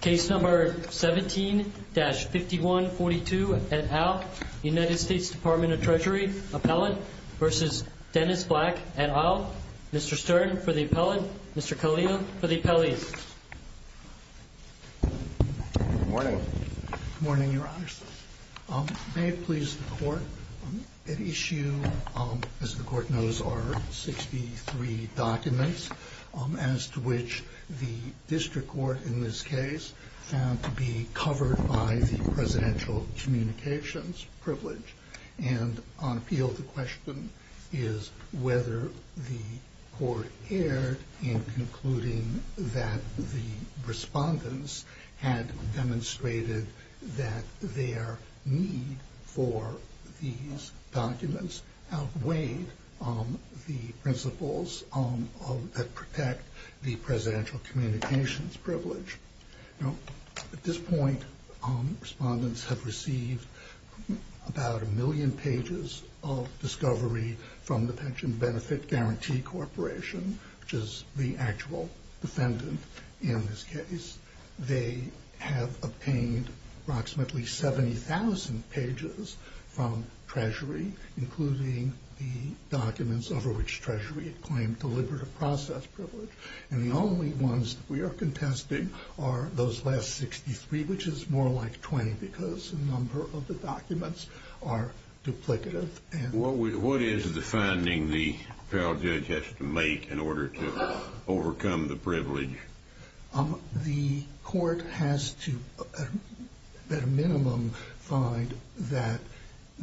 Case No. 17-5142 et al., United States Department of Treasury, Appellant v. Dennis Black et al., Mr. Stern for the Appellant, Mr. Kalia for the Appellant. Good morning. Good morning, Your Honors. May it please the Court, at issue, as the Court knows, are 63 documents as to which the District Court in this case found to be covered by the Presidential Communications Privilege. And on appeal, the question is whether the Court erred in concluding that the respondents had demonstrated that their need for these documents outweighed the principles that protect the Presidential Communications Privilege. Now, at this point, respondents have received about a million pages of discovery from the Pension Benefit Guarantee Corporation, which is the actual defendant in this case. They have obtained approximately 70,000 pages from Treasury, including the documents over which Treasury had claimed deliberative process privilege. And the only ones that we are contesting are those last 63, which is more like 20, because the number of the documents are duplicative. What is the finding the appellate judge has to make in order to overcome the privilege? The Court has to, at a minimum, find that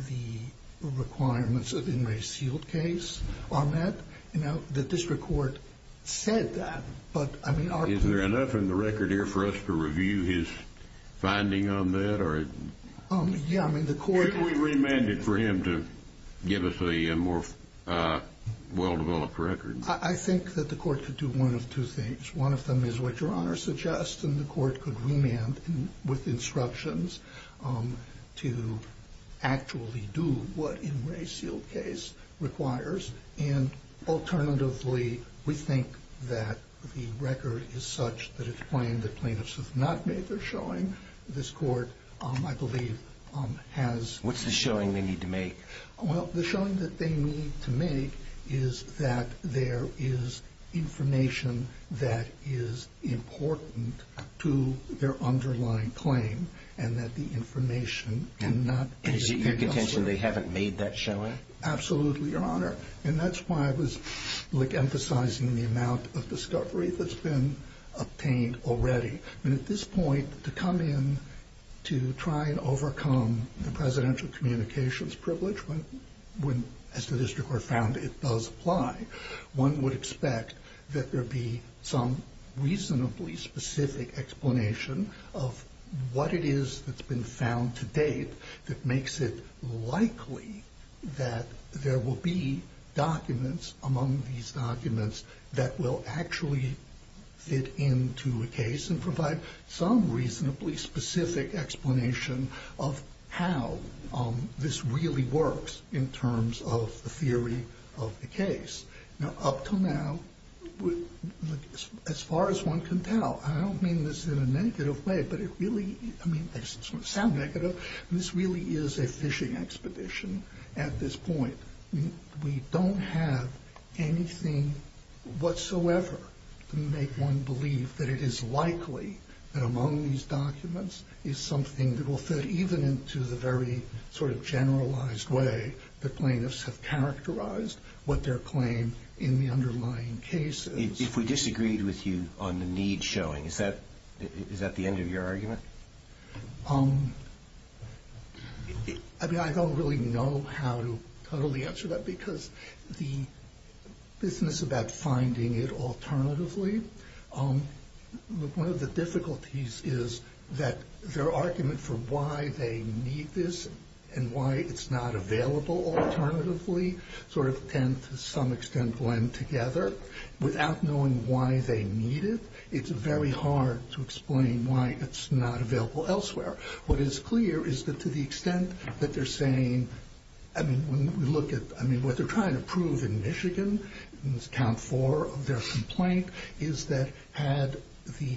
the requirements of the Enraged Sealed case are met. Now, the District Court said that, but, I mean... Is there enough in the record here for us to review his finding on that? Should we remand it for him to give us a more well-developed record? I think that the Court could do one of two things. One of them is what Your Honor suggests, and the Court could remand with instructions to actually do what Enraged Sealed case requires. And, alternatively, we think that the record is such that it's claimed that plaintiffs have not made their showing. This Court, I believe, has... What's the showing they need to make? Well, the showing that they need to make is that there is information that is important to their underlying claim, and that the information cannot be... Is it your contention they haven't made that showing? Absolutely, Your Honor. And that's why I was emphasizing the amount of discovery that's been obtained already. And, at this point, to come in to try and overcome the presidential communications privilege, as the District Court found it does apply, one would expect that there be some reasonably specific explanation of what it is that's been found to date that makes it likely that there will be documents among these documents that will actually fit into a case and provide some reasonably specific explanation of how this really works in terms of the theory of the case. Now, up to now, as far as one can tell, I don't mean this in a negative way, but it really... I mean, I just don't want to sound negative. This really is a fishing expedition at this point. We don't have anything whatsoever to make one believe that it is likely that among these documents is something that will fit, even into the very sort of generalized way that plaintiffs have characterized what their claim in the underlying case is. If we disagreed with you on the need showing, is that the end of your argument? I mean, I don't really know how to totally answer that, because the business about finding it alternatively, one of the difficulties is that their argument for why they need this and why it's not available alternatively sort of tend to some extent blend together. But without knowing why they need it, it's very hard to explain why it's not available elsewhere. What is clear is that to the extent that they're saying... I mean, when we look at... I mean, what they're trying to prove in Michigan, in this count four of their complaint, is that had the...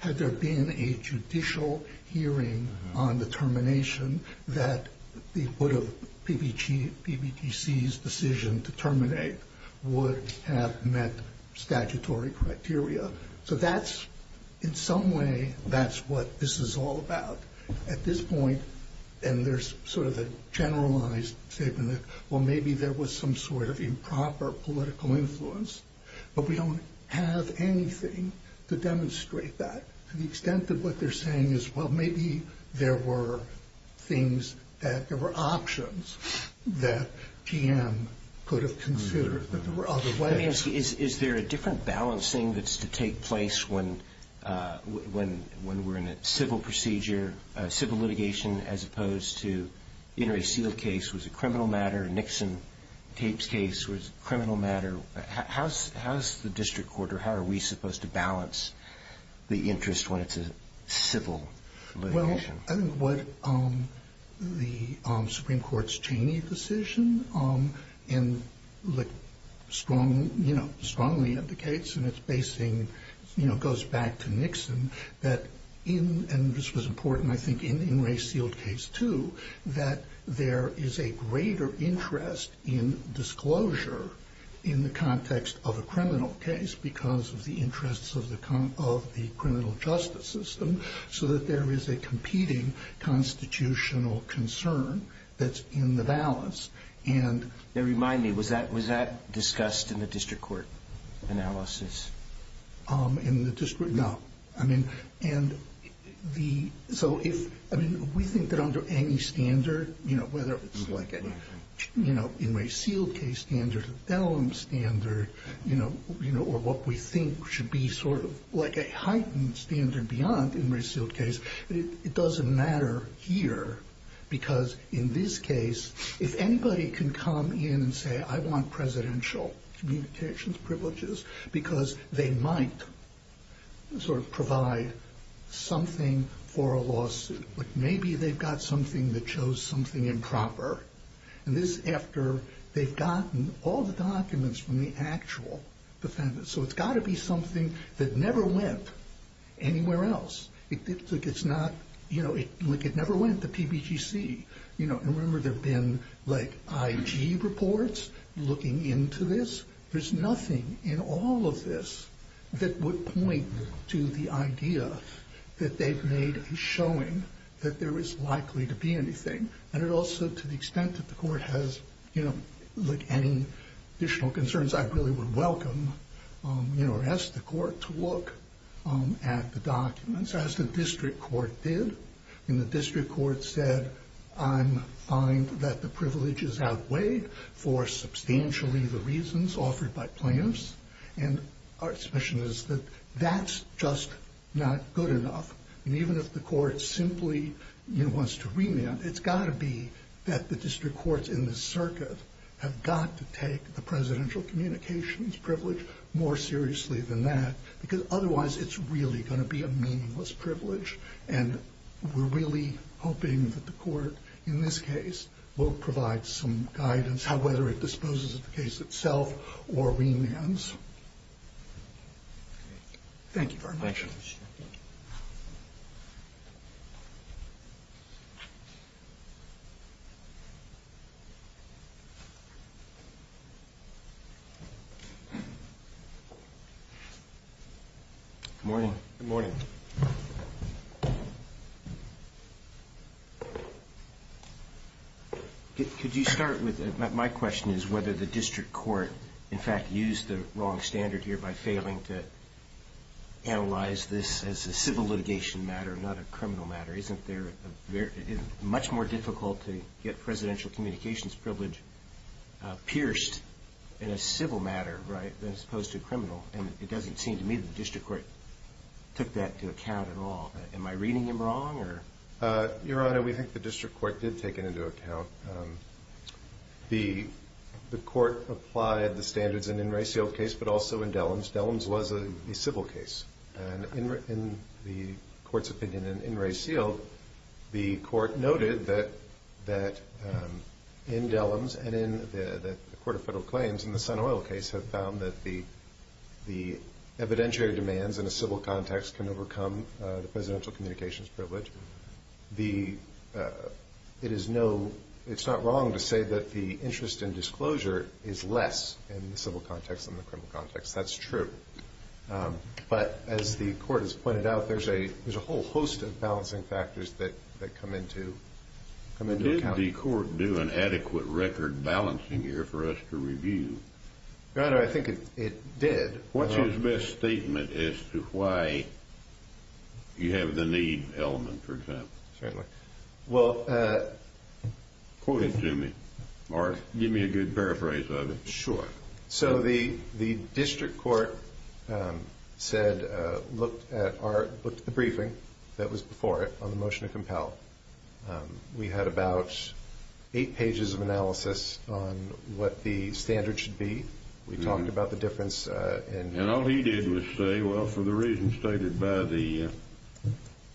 Had there been a judicial hearing on the termination that the put of PBTC's decision to terminate would have met statutory criteria. So that's, in some way, that's what this is all about. At this point, and there's sort of a generalized statement that, well, maybe there was some sort of improper political influence, but we don't have anything to demonstrate that. To the extent that what they're saying is, well, maybe there were things that... There were options that PM could have considered, but there were other ways. I mean, is there a different balancing that's to take place when we're in a civil procedure, civil litigation, as opposed to, you know, a sealed case was a criminal matter, a Nixon tapes case was a criminal matter. How is the district court or how are we supposed to balance the interest when it's a civil litigation? I think what the Supreme Court's Cheney decision strongly indicates, and it's basing... You know, it goes back to Nixon, that in... And this was important, I think, in Ray's sealed case, too, that there is a greater interest in disclosure in the context of a criminal case because of the interests of the criminal justice system, so that there is a competing constitutional concern that's in the balance. And... Now, remind me, was that discussed in the district court analysis? In the district, no. I mean, and the... So if... I mean, we think that under any standard, you know, whether it's like a, you know, in Ray's sealed case standard, you know, or what we think should be sort of like a heightened standard beyond in Ray's sealed case, it doesn't matter here because in this case, if anybody can come in and say, I want presidential communications privileges because they might sort of provide something for a lawsuit. Like maybe they've got something that shows something improper. And this is after they've gotten all the documents from the actual defendant. So it's got to be something that never went anywhere else. It's not, you know, like it never went to PBGC. You know, and remember, there have been, like, IG reports looking into this. There's nothing in all of this that would point to the idea that they've made a showing that there is likely to be anything. And it also, to the extent that the court has, you know, like any additional concerns, I really would welcome, you know, ask the court to look at the documents as the district court did. And the district court said, I'm fine that the privileges outweighed for substantially the reasons offered by plaintiffs. And our suspicion is that that's just not good enough. And even if the court simply, you know, wants to remand, it's got to be that the district courts in the circuit have got to take the presidential communications privilege more seriously than that. Because otherwise, it's really going to be a meaningless privilege. And we're really hoping that the court in this case will provide some guidance, whether it disposes of the case itself or remands. Thank you very much. Thank you. Good morning. Good morning. Could you start with, my question is whether the district court, in fact, used the wrong standard here by failing to analyze this as a civil litigation matter, not a criminal matter. Isn't there a very, much more difficult to get presidential communications privilege pierced in a civil matter, right, than as opposed to a criminal? And it doesn't seem to me that the district court took that into account at all. Am I reading him wrong? Your Honor, we think the district court did take it into account. The court applied the standards in In Re Sealed case, but also in Dellums. Dellums was a civil case. And in the court's opinion in In Re Sealed, the court noted that in Dellums and in the court of federal claims in the Sun Oil case have found that the evidentiary demands in a civil context can overcome the presidential communications privilege. It is not wrong to say that the interest in disclosure is less in the civil context than the criminal context. That's true. But as the court has pointed out, there's a whole host of balancing factors that come into account. Did the court do an adequate record balancing here for us to review? Your Honor, I think it did. What's his best statement as to why you have the need element, for example? Certainly. Well, quote it to me, or give me a good paraphrase of it. Sure. So the district court said, looked at the briefing that was before it on the motion to compel. We had about eight pages of analysis on what the standard should be. We talked about the difference in And all he did was say, well, for the reasons stated by the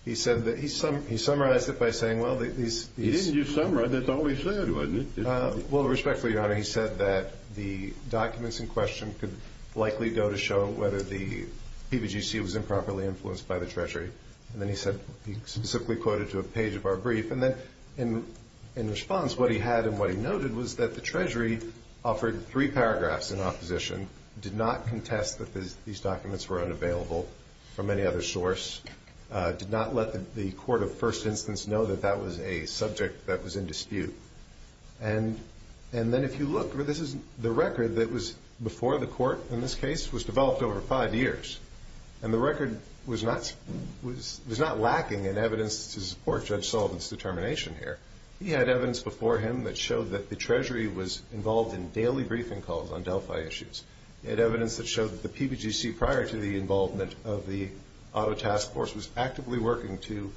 He said that he summarized it by saying, well, these He didn't just summarize, that's all he said, wasn't it? Well, respectfully, Your Honor, he said that the documents in question could likely go to show whether the PVGC was improperly influenced by the Treasury. And then he said, he specifically quoted to a page of our brief. And then in response, what he had and what he noted was that the Treasury offered three paragraphs in opposition, did not contest that these documents were unavailable from any other source, did not let the court of first instance know that that was a subject that was in dispute. And then if you look, this is the record that was before the court, in this case, was developed over five years. And the record was not lacking in evidence to support Judge Sullivan's determination here. He had evidence before him that showed that the Treasury was involved in daily briefing calls on Delphi issues. He had evidence that showed that the PVGC, prior to the involvement of the auto task force, was actively working to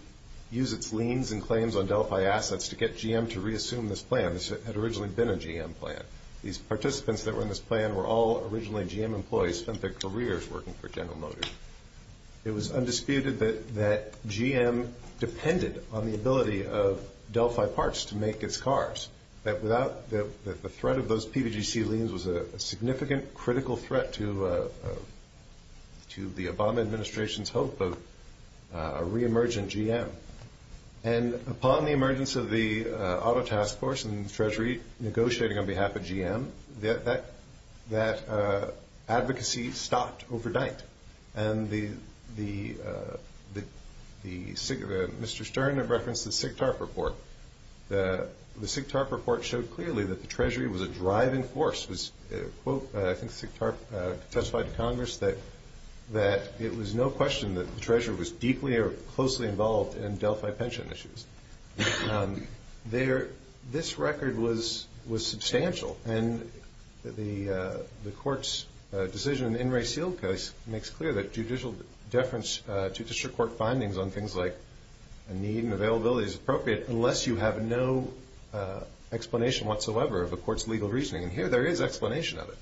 use its liens and claims on Delphi assets to get GM to reassume this plan. This had originally been a GM plan. These participants that were in this plan were all originally GM employees, spent their careers working for General Motors. It was undisputed that GM depended on the ability of Delphi parts to make its cars, that the threat of those PVGC liens was a significant, critical threat to the Obama administration's hope of a reemergent GM. And upon the emergence of the auto task force and the Treasury negotiating on behalf of GM, that advocacy stopped overnight. And Mr. Stern referenced the SIGTARP report. The SIGTARP report showed clearly that the Treasury was a driving force. I think SIGTARP testified to Congress that it was no question that the Treasury was deeply or closely involved in Delphi pension issues. This record was substantial, and the Court's decision in the In Re Sealed case makes clear that judicial deference to district court findings on things like a need and availability is appropriate unless you have no explanation whatsoever of the Court's legal reasoning. And here there is explanation of it.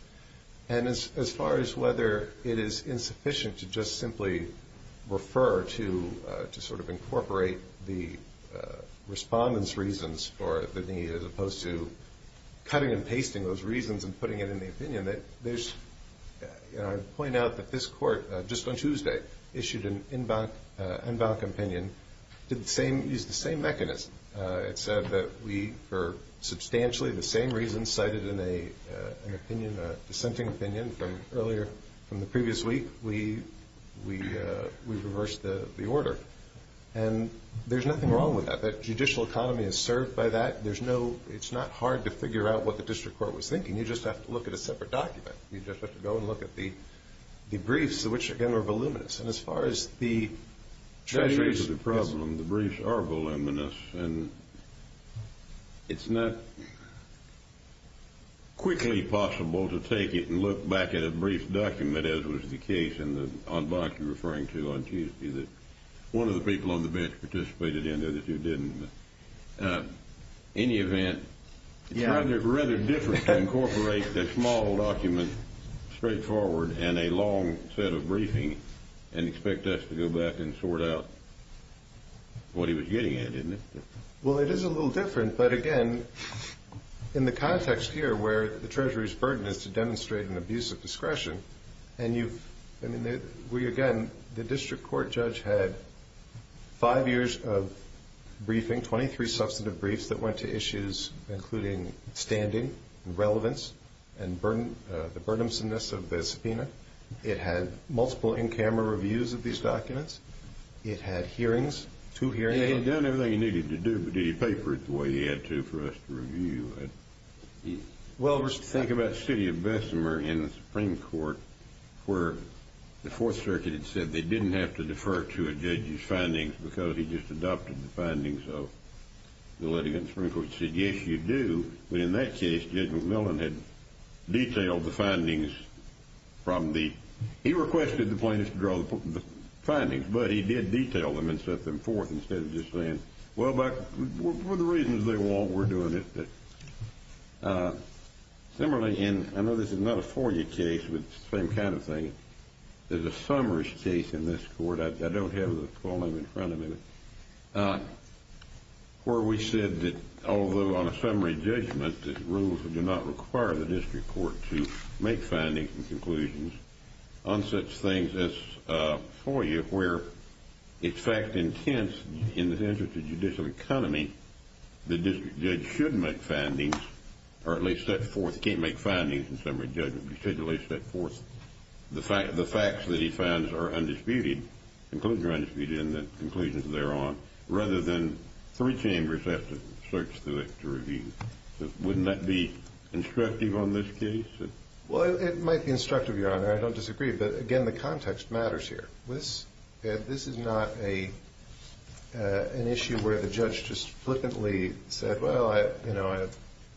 And as far as whether it is insufficient to just simply refer to sort of incorporate the respondent's reasons for the need, as opposed to cutting and pasting those reasons and putting it in the opinion, I'd point out that this Court, just on Tuesday, issued an en banc opinion. It used the same mechanism. It said that we, for substantially the same reasons cited in an opinion, a dissenting opinion from earlier, from the previous week, we reversed the order. And there's nothing wrong with that. That judicial economy is served by that. There's no – it's not hard to figure out what the district court was thinking. You just have to look at a separate document. You just have to go and look at the briefs, which, again, are voluminous. And as far as the – That's the problem. The briefs are voluminous. And it's not quickly possible to take it and look back at a brief document, as was the case in the en banc you're referring to on Tuesday, that one of the people on the bench participated in, the other two didn't. In any event, it's rather difficult to incorporate a small document, straightforward, and a long set of briefing and expect us to go back and sort out what he was getting at, isn't it? Well, it is a little different. But, again, in the context here where the Treasury's burden is to demonstrate an abuse of discretion, and you've – I mean, we, again, the district court judge had five years of briefing, 23 substantive briefs that went to issues including standing and relevance and the burdensomeness of the subpoena. It had multiple in-camera reviews of these documents. It had hearings, two hearings. And he had done everything he needed to do, but did he pay for it the way he had to for us to review it? Well, think about the city of Bessemer in the Supreme Court, where the Fourth Circuit had said they didn't have to defer to a judge's findings which said, yes, you do. But in that case, Judge McMillan had detailed the findings from the – he requested the plaintiffs to draw the findings, but he did detail them and set them forth instead of just saying, well, but for the reasons they want, we're doing it. Similarly, and I know this is not a FOIA case, but it's the same kind of thing. There's a Summers case in this court. I don't have the full name in front of me. But where we said that although on a summary judgment, the rules do not require the district court to make findings and conclusions on such things as FOIA, where it's fact-intense in the interest of judicial economy, the district judge should make findings or at least set forth – can't make findings in summary judgment, particularly set forth the facts that he finds are undisputed, conclusions are undisputed and the conclusions thereon, rather than three chambers have to search through it to review. Wouldn't that be instructive on this case? Well, it might be instructive, Your Honor. I don't disagree. But, again, the context matters here. This is not an issue where the judge just flippantly said, well, you know,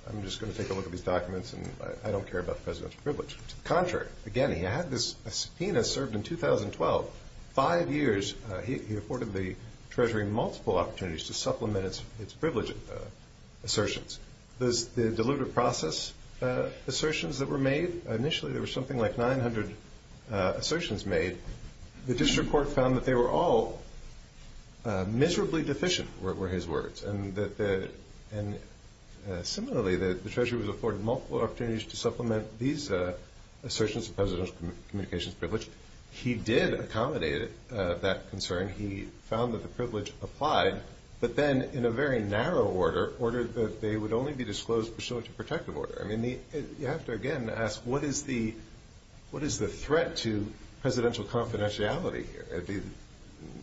I'm just going to take a look at these documents and I don't care about presidential privilege. To the contrary. Again, he had this subpoena served in 2012. Five years he afforded the Treasury multiple opportunities to supplement its privilege assertions. The dilutive process assertions that were made, initially there were something like 900 assertions made. The district court found that they were all miserably deficient were his words. And similarly, the Treasury was afforded multiple opportunities to supplement these assertions of presidential communications privilege. He did accommodate that concern. He found that the privilege applied, but then in a very narrow order, ordered that they would only be disclosed pursuant to protective order. I mean, you have to, again, ask what is the threat to presidential confidentiality here,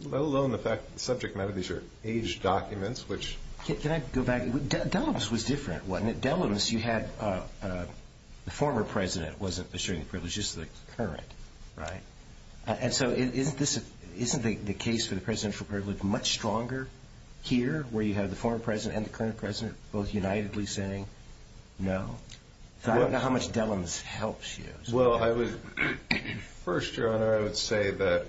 let alone the fact that the subject matter of these are aged documents, which... Can I go back? Dellums was different, wasn't it? Dellums, you had the former president wasn't assuring the privileges to the current, right? And so isn't the case for the presidential privilege much stronger here, where you have the former president and the current president both unitedly saying no? I don't know how much Dellums helps you. Well, first, Your Honor, I would say that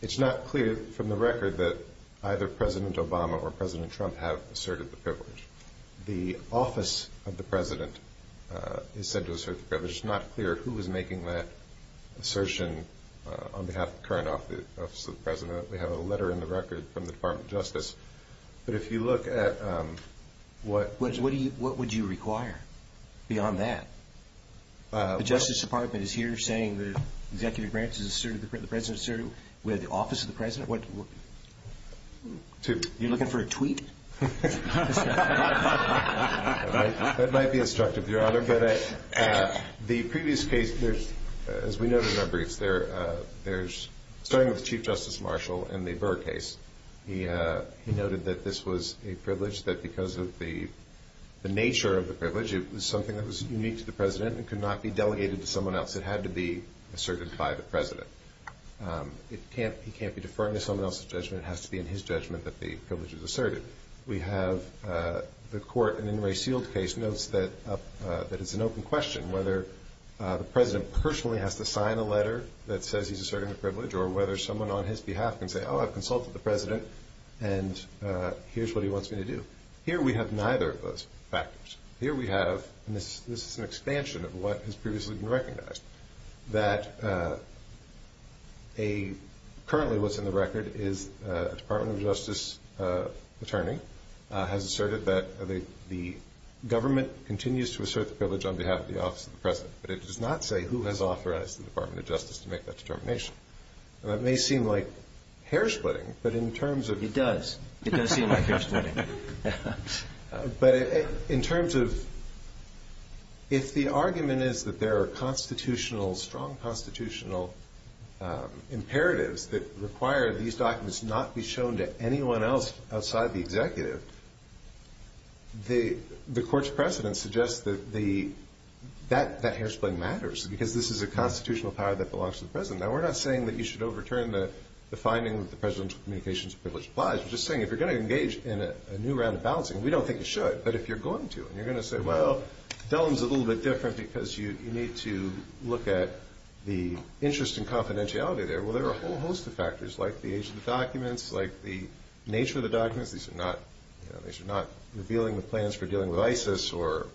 it's not clear from the record that either President Obama or President Trump have asserted the privilege. The office of the president is said to assert the privilege. It's not clear who is making that assertion on behalf of the current office of the president. We have a letter in the record from the Department of Justice. But if you look at what... What would you require beyond that? The Justice Department is here saying the executive branch has asserted, the president has asserted with the office of the president? Are you looking for a tweet? That might be instructive, Your Honor. The previous case, as we noted in our briefs, there's, starting with Chief Justice Marshall in the Burr case, he noted that this was a privilege that because of the nature of the privilege, it was something that was unique to the president and could not be delegated to someone else. It had to be asserted by the president. He can't be deferring to someone else's judgment. It has to be in his judgment that the privilege is asserted. We have the court in the Ray Seald case notes that it's an open question whether the president personally has to sign a letter that says he's asserting the privilege or whether someone on his behalf can say, oh, I've consulted the president, and here's what he wants me to do. Here we have neither of those factors. Here we have, and this is an expansion of what has previously been recognized, that currently what's in the record is a Department of Justice attorney has asserted that the government continues to assert the privilege on behalf of the office of the president, but it does not say who has authorized the Department of Justice to make that determination. Now, that may seem like hair splitting, but in terms of It does. It does seem like hair splitting. But in terms of if the argument is that there are constitutional, strong constitutional imperatives that require these documents not be shown to anyone else outside the executive, the court's precedent suggests that that hair splitting matters because this is a constitutional power that belongs to the president. Now, we're not saying that you should overturn the finding that the presidential communications privilege applies. We're just saying if you're going to engage in a new round of balancing, we don't think you should, but if you're going to and you're going to say, well, Dellum's a little bit different because you need to look at the interest in confidentiality there. Well, there are a whole host of factors like the age of the documents, like the nature of the documents. These are not revealing the plans for dealing with ISIS or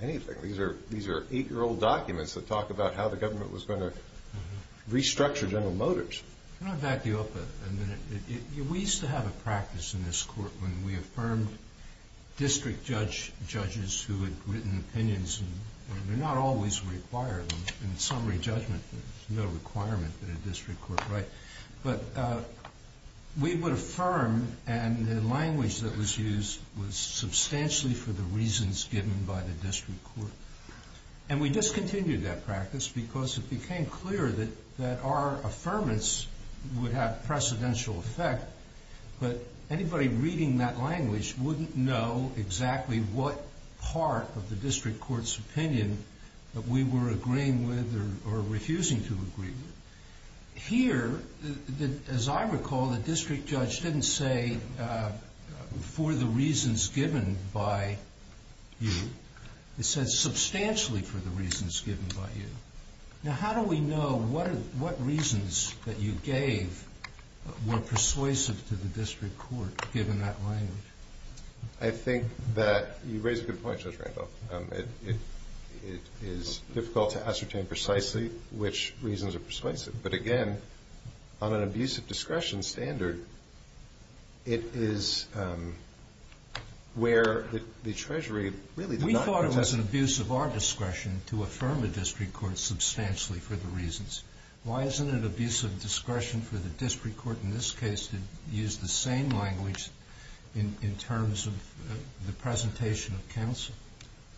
anything. These are eight-year-old documents that talk about how the government was going to restructure General Motors. Can I back you up a minute? We used to have a practice in this court when we affirmed district judges who had written opinions. They're not always required. In summary judgment, there's no requirement that a district court write. But we would affirm, and the language that was used was substantially for the reasons given by the district court. And we discontinued that practice because it became clear that our affirmance would have precedential effect, but anybody reading that language wouldn't know exactly what part of the district court's opinion that we were agreeing with or refusing to agree with. Here, as I recall, the district judge didn't say for the reasons given by you. It said substantially for the reasons given by you. Now, how do we know what reasons that you gave were persuasive to the district court, given that language? I think that you raise a good point, Judge Randolph. It is difficult to ascertain precisely which reasons are persuasive. But, again, on an abuse of discretion standard, it is where the Treasury really did not contest it. We thought it was an abuse of our discretion to affirm a district court substantially for the reasons. Why isn't it an abuse of discretion for the district court in this case to use the same language in terms of the presentation of counsel?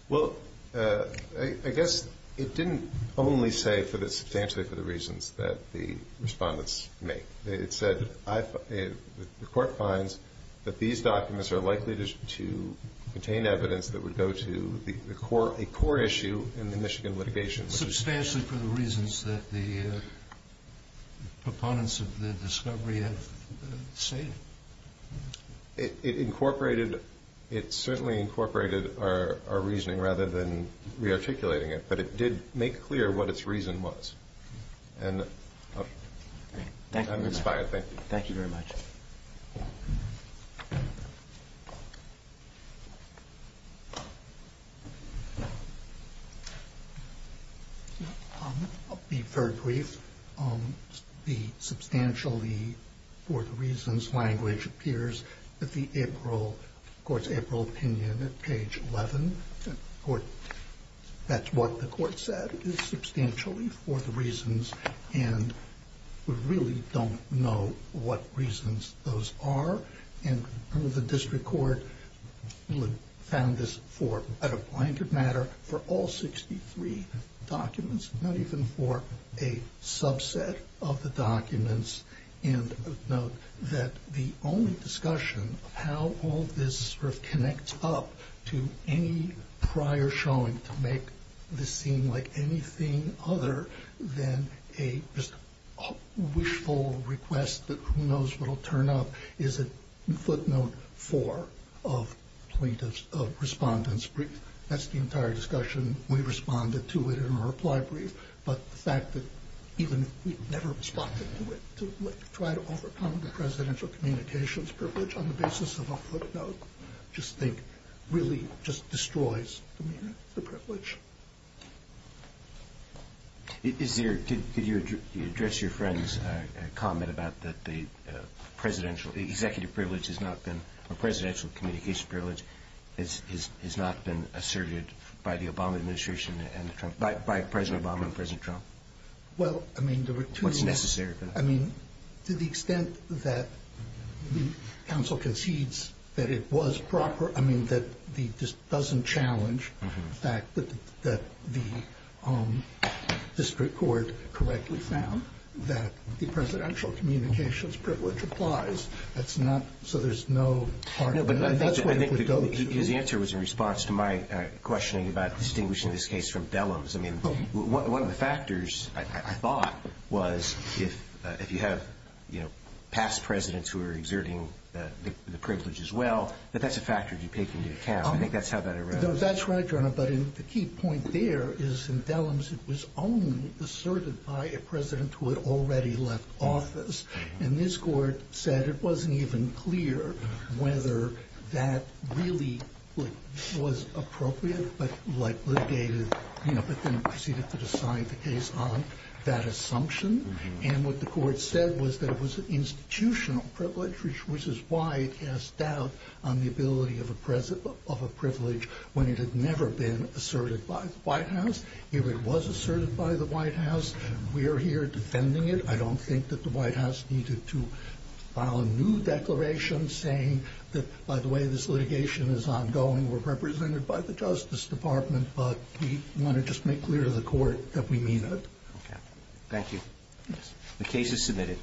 Well, I guess it didn't only say substantially for the reasons that the respondents make. It said the court finds that these documents are likely to contain evidence that would go to a core issue in the Michigan litigation. Substantially for the reasons that the proponents of the discovery have stated. It incorporated, it certainly incorporated our reasoning rather than rearticulating it, but it did make clear what its reason was. And I'm inspired. Thank you. Thank you very much. I'll be very brief. The substantially for the reasons language appears at the April opinion at page 11. That's what the court said, is substantially for the reasons. And we really don't know what reasons those are. And the district court found this for a blanket matter for all 63 documents, not even for a subset of the documents. And note that the only discussion of how all this sort of connects up to any prior showing to make this seem like anything other than a wishful request that who knows what will turn up is a footnote for a plaintiff's, a respondent's brief. That's the entire discussion. We responded to it in a reply brief. But the fact that even if we never responded to it, to try to overcome the presidential communications privilege on the basis of a footnote, just think really just destroys the privilege. Is there, did you address your friend's comment about that the presidential executive privilege has not been, or presidential communication privilege has not been asserted by the Obama administration and by President Obama and President Trump? Well, I mean, there were two. What's necessary. I mean, to the extent that the council concedes that it was proper, I mean, that the, just doesn't challenge the fact that the district court correctly found that the presidential communications privilege applies. That's not, so there's no part of it. His answer was in response to my questioning about distinguishing this case from Dellums. I mean, one of the factors I thought was if you have past presidents who are exerting the privilege as well, that that's a factor to take into account. I think that's how that arises. That's right, Your Honor. But the key point there is in Dellums, it was only asserted by a president who had already left office. And this court said it wasn't even clear whether that really was appropriate, but like litigated, you know, but then proceeded to decide the case on that assumption. And what the court said was that it was an institutional privilege, which is why it cast doubt on the ability of a president of a privilege when it had never been asserted by the White House. It was asserted by the White House. We are here defending it. I don't think that the White House needed to file a new declaration saying that, by the way, this litigation is ongoing. We're represented by the Justice Department, but we want to just make clear to the court that we mean that. Okay. Thank you. The case is submitted.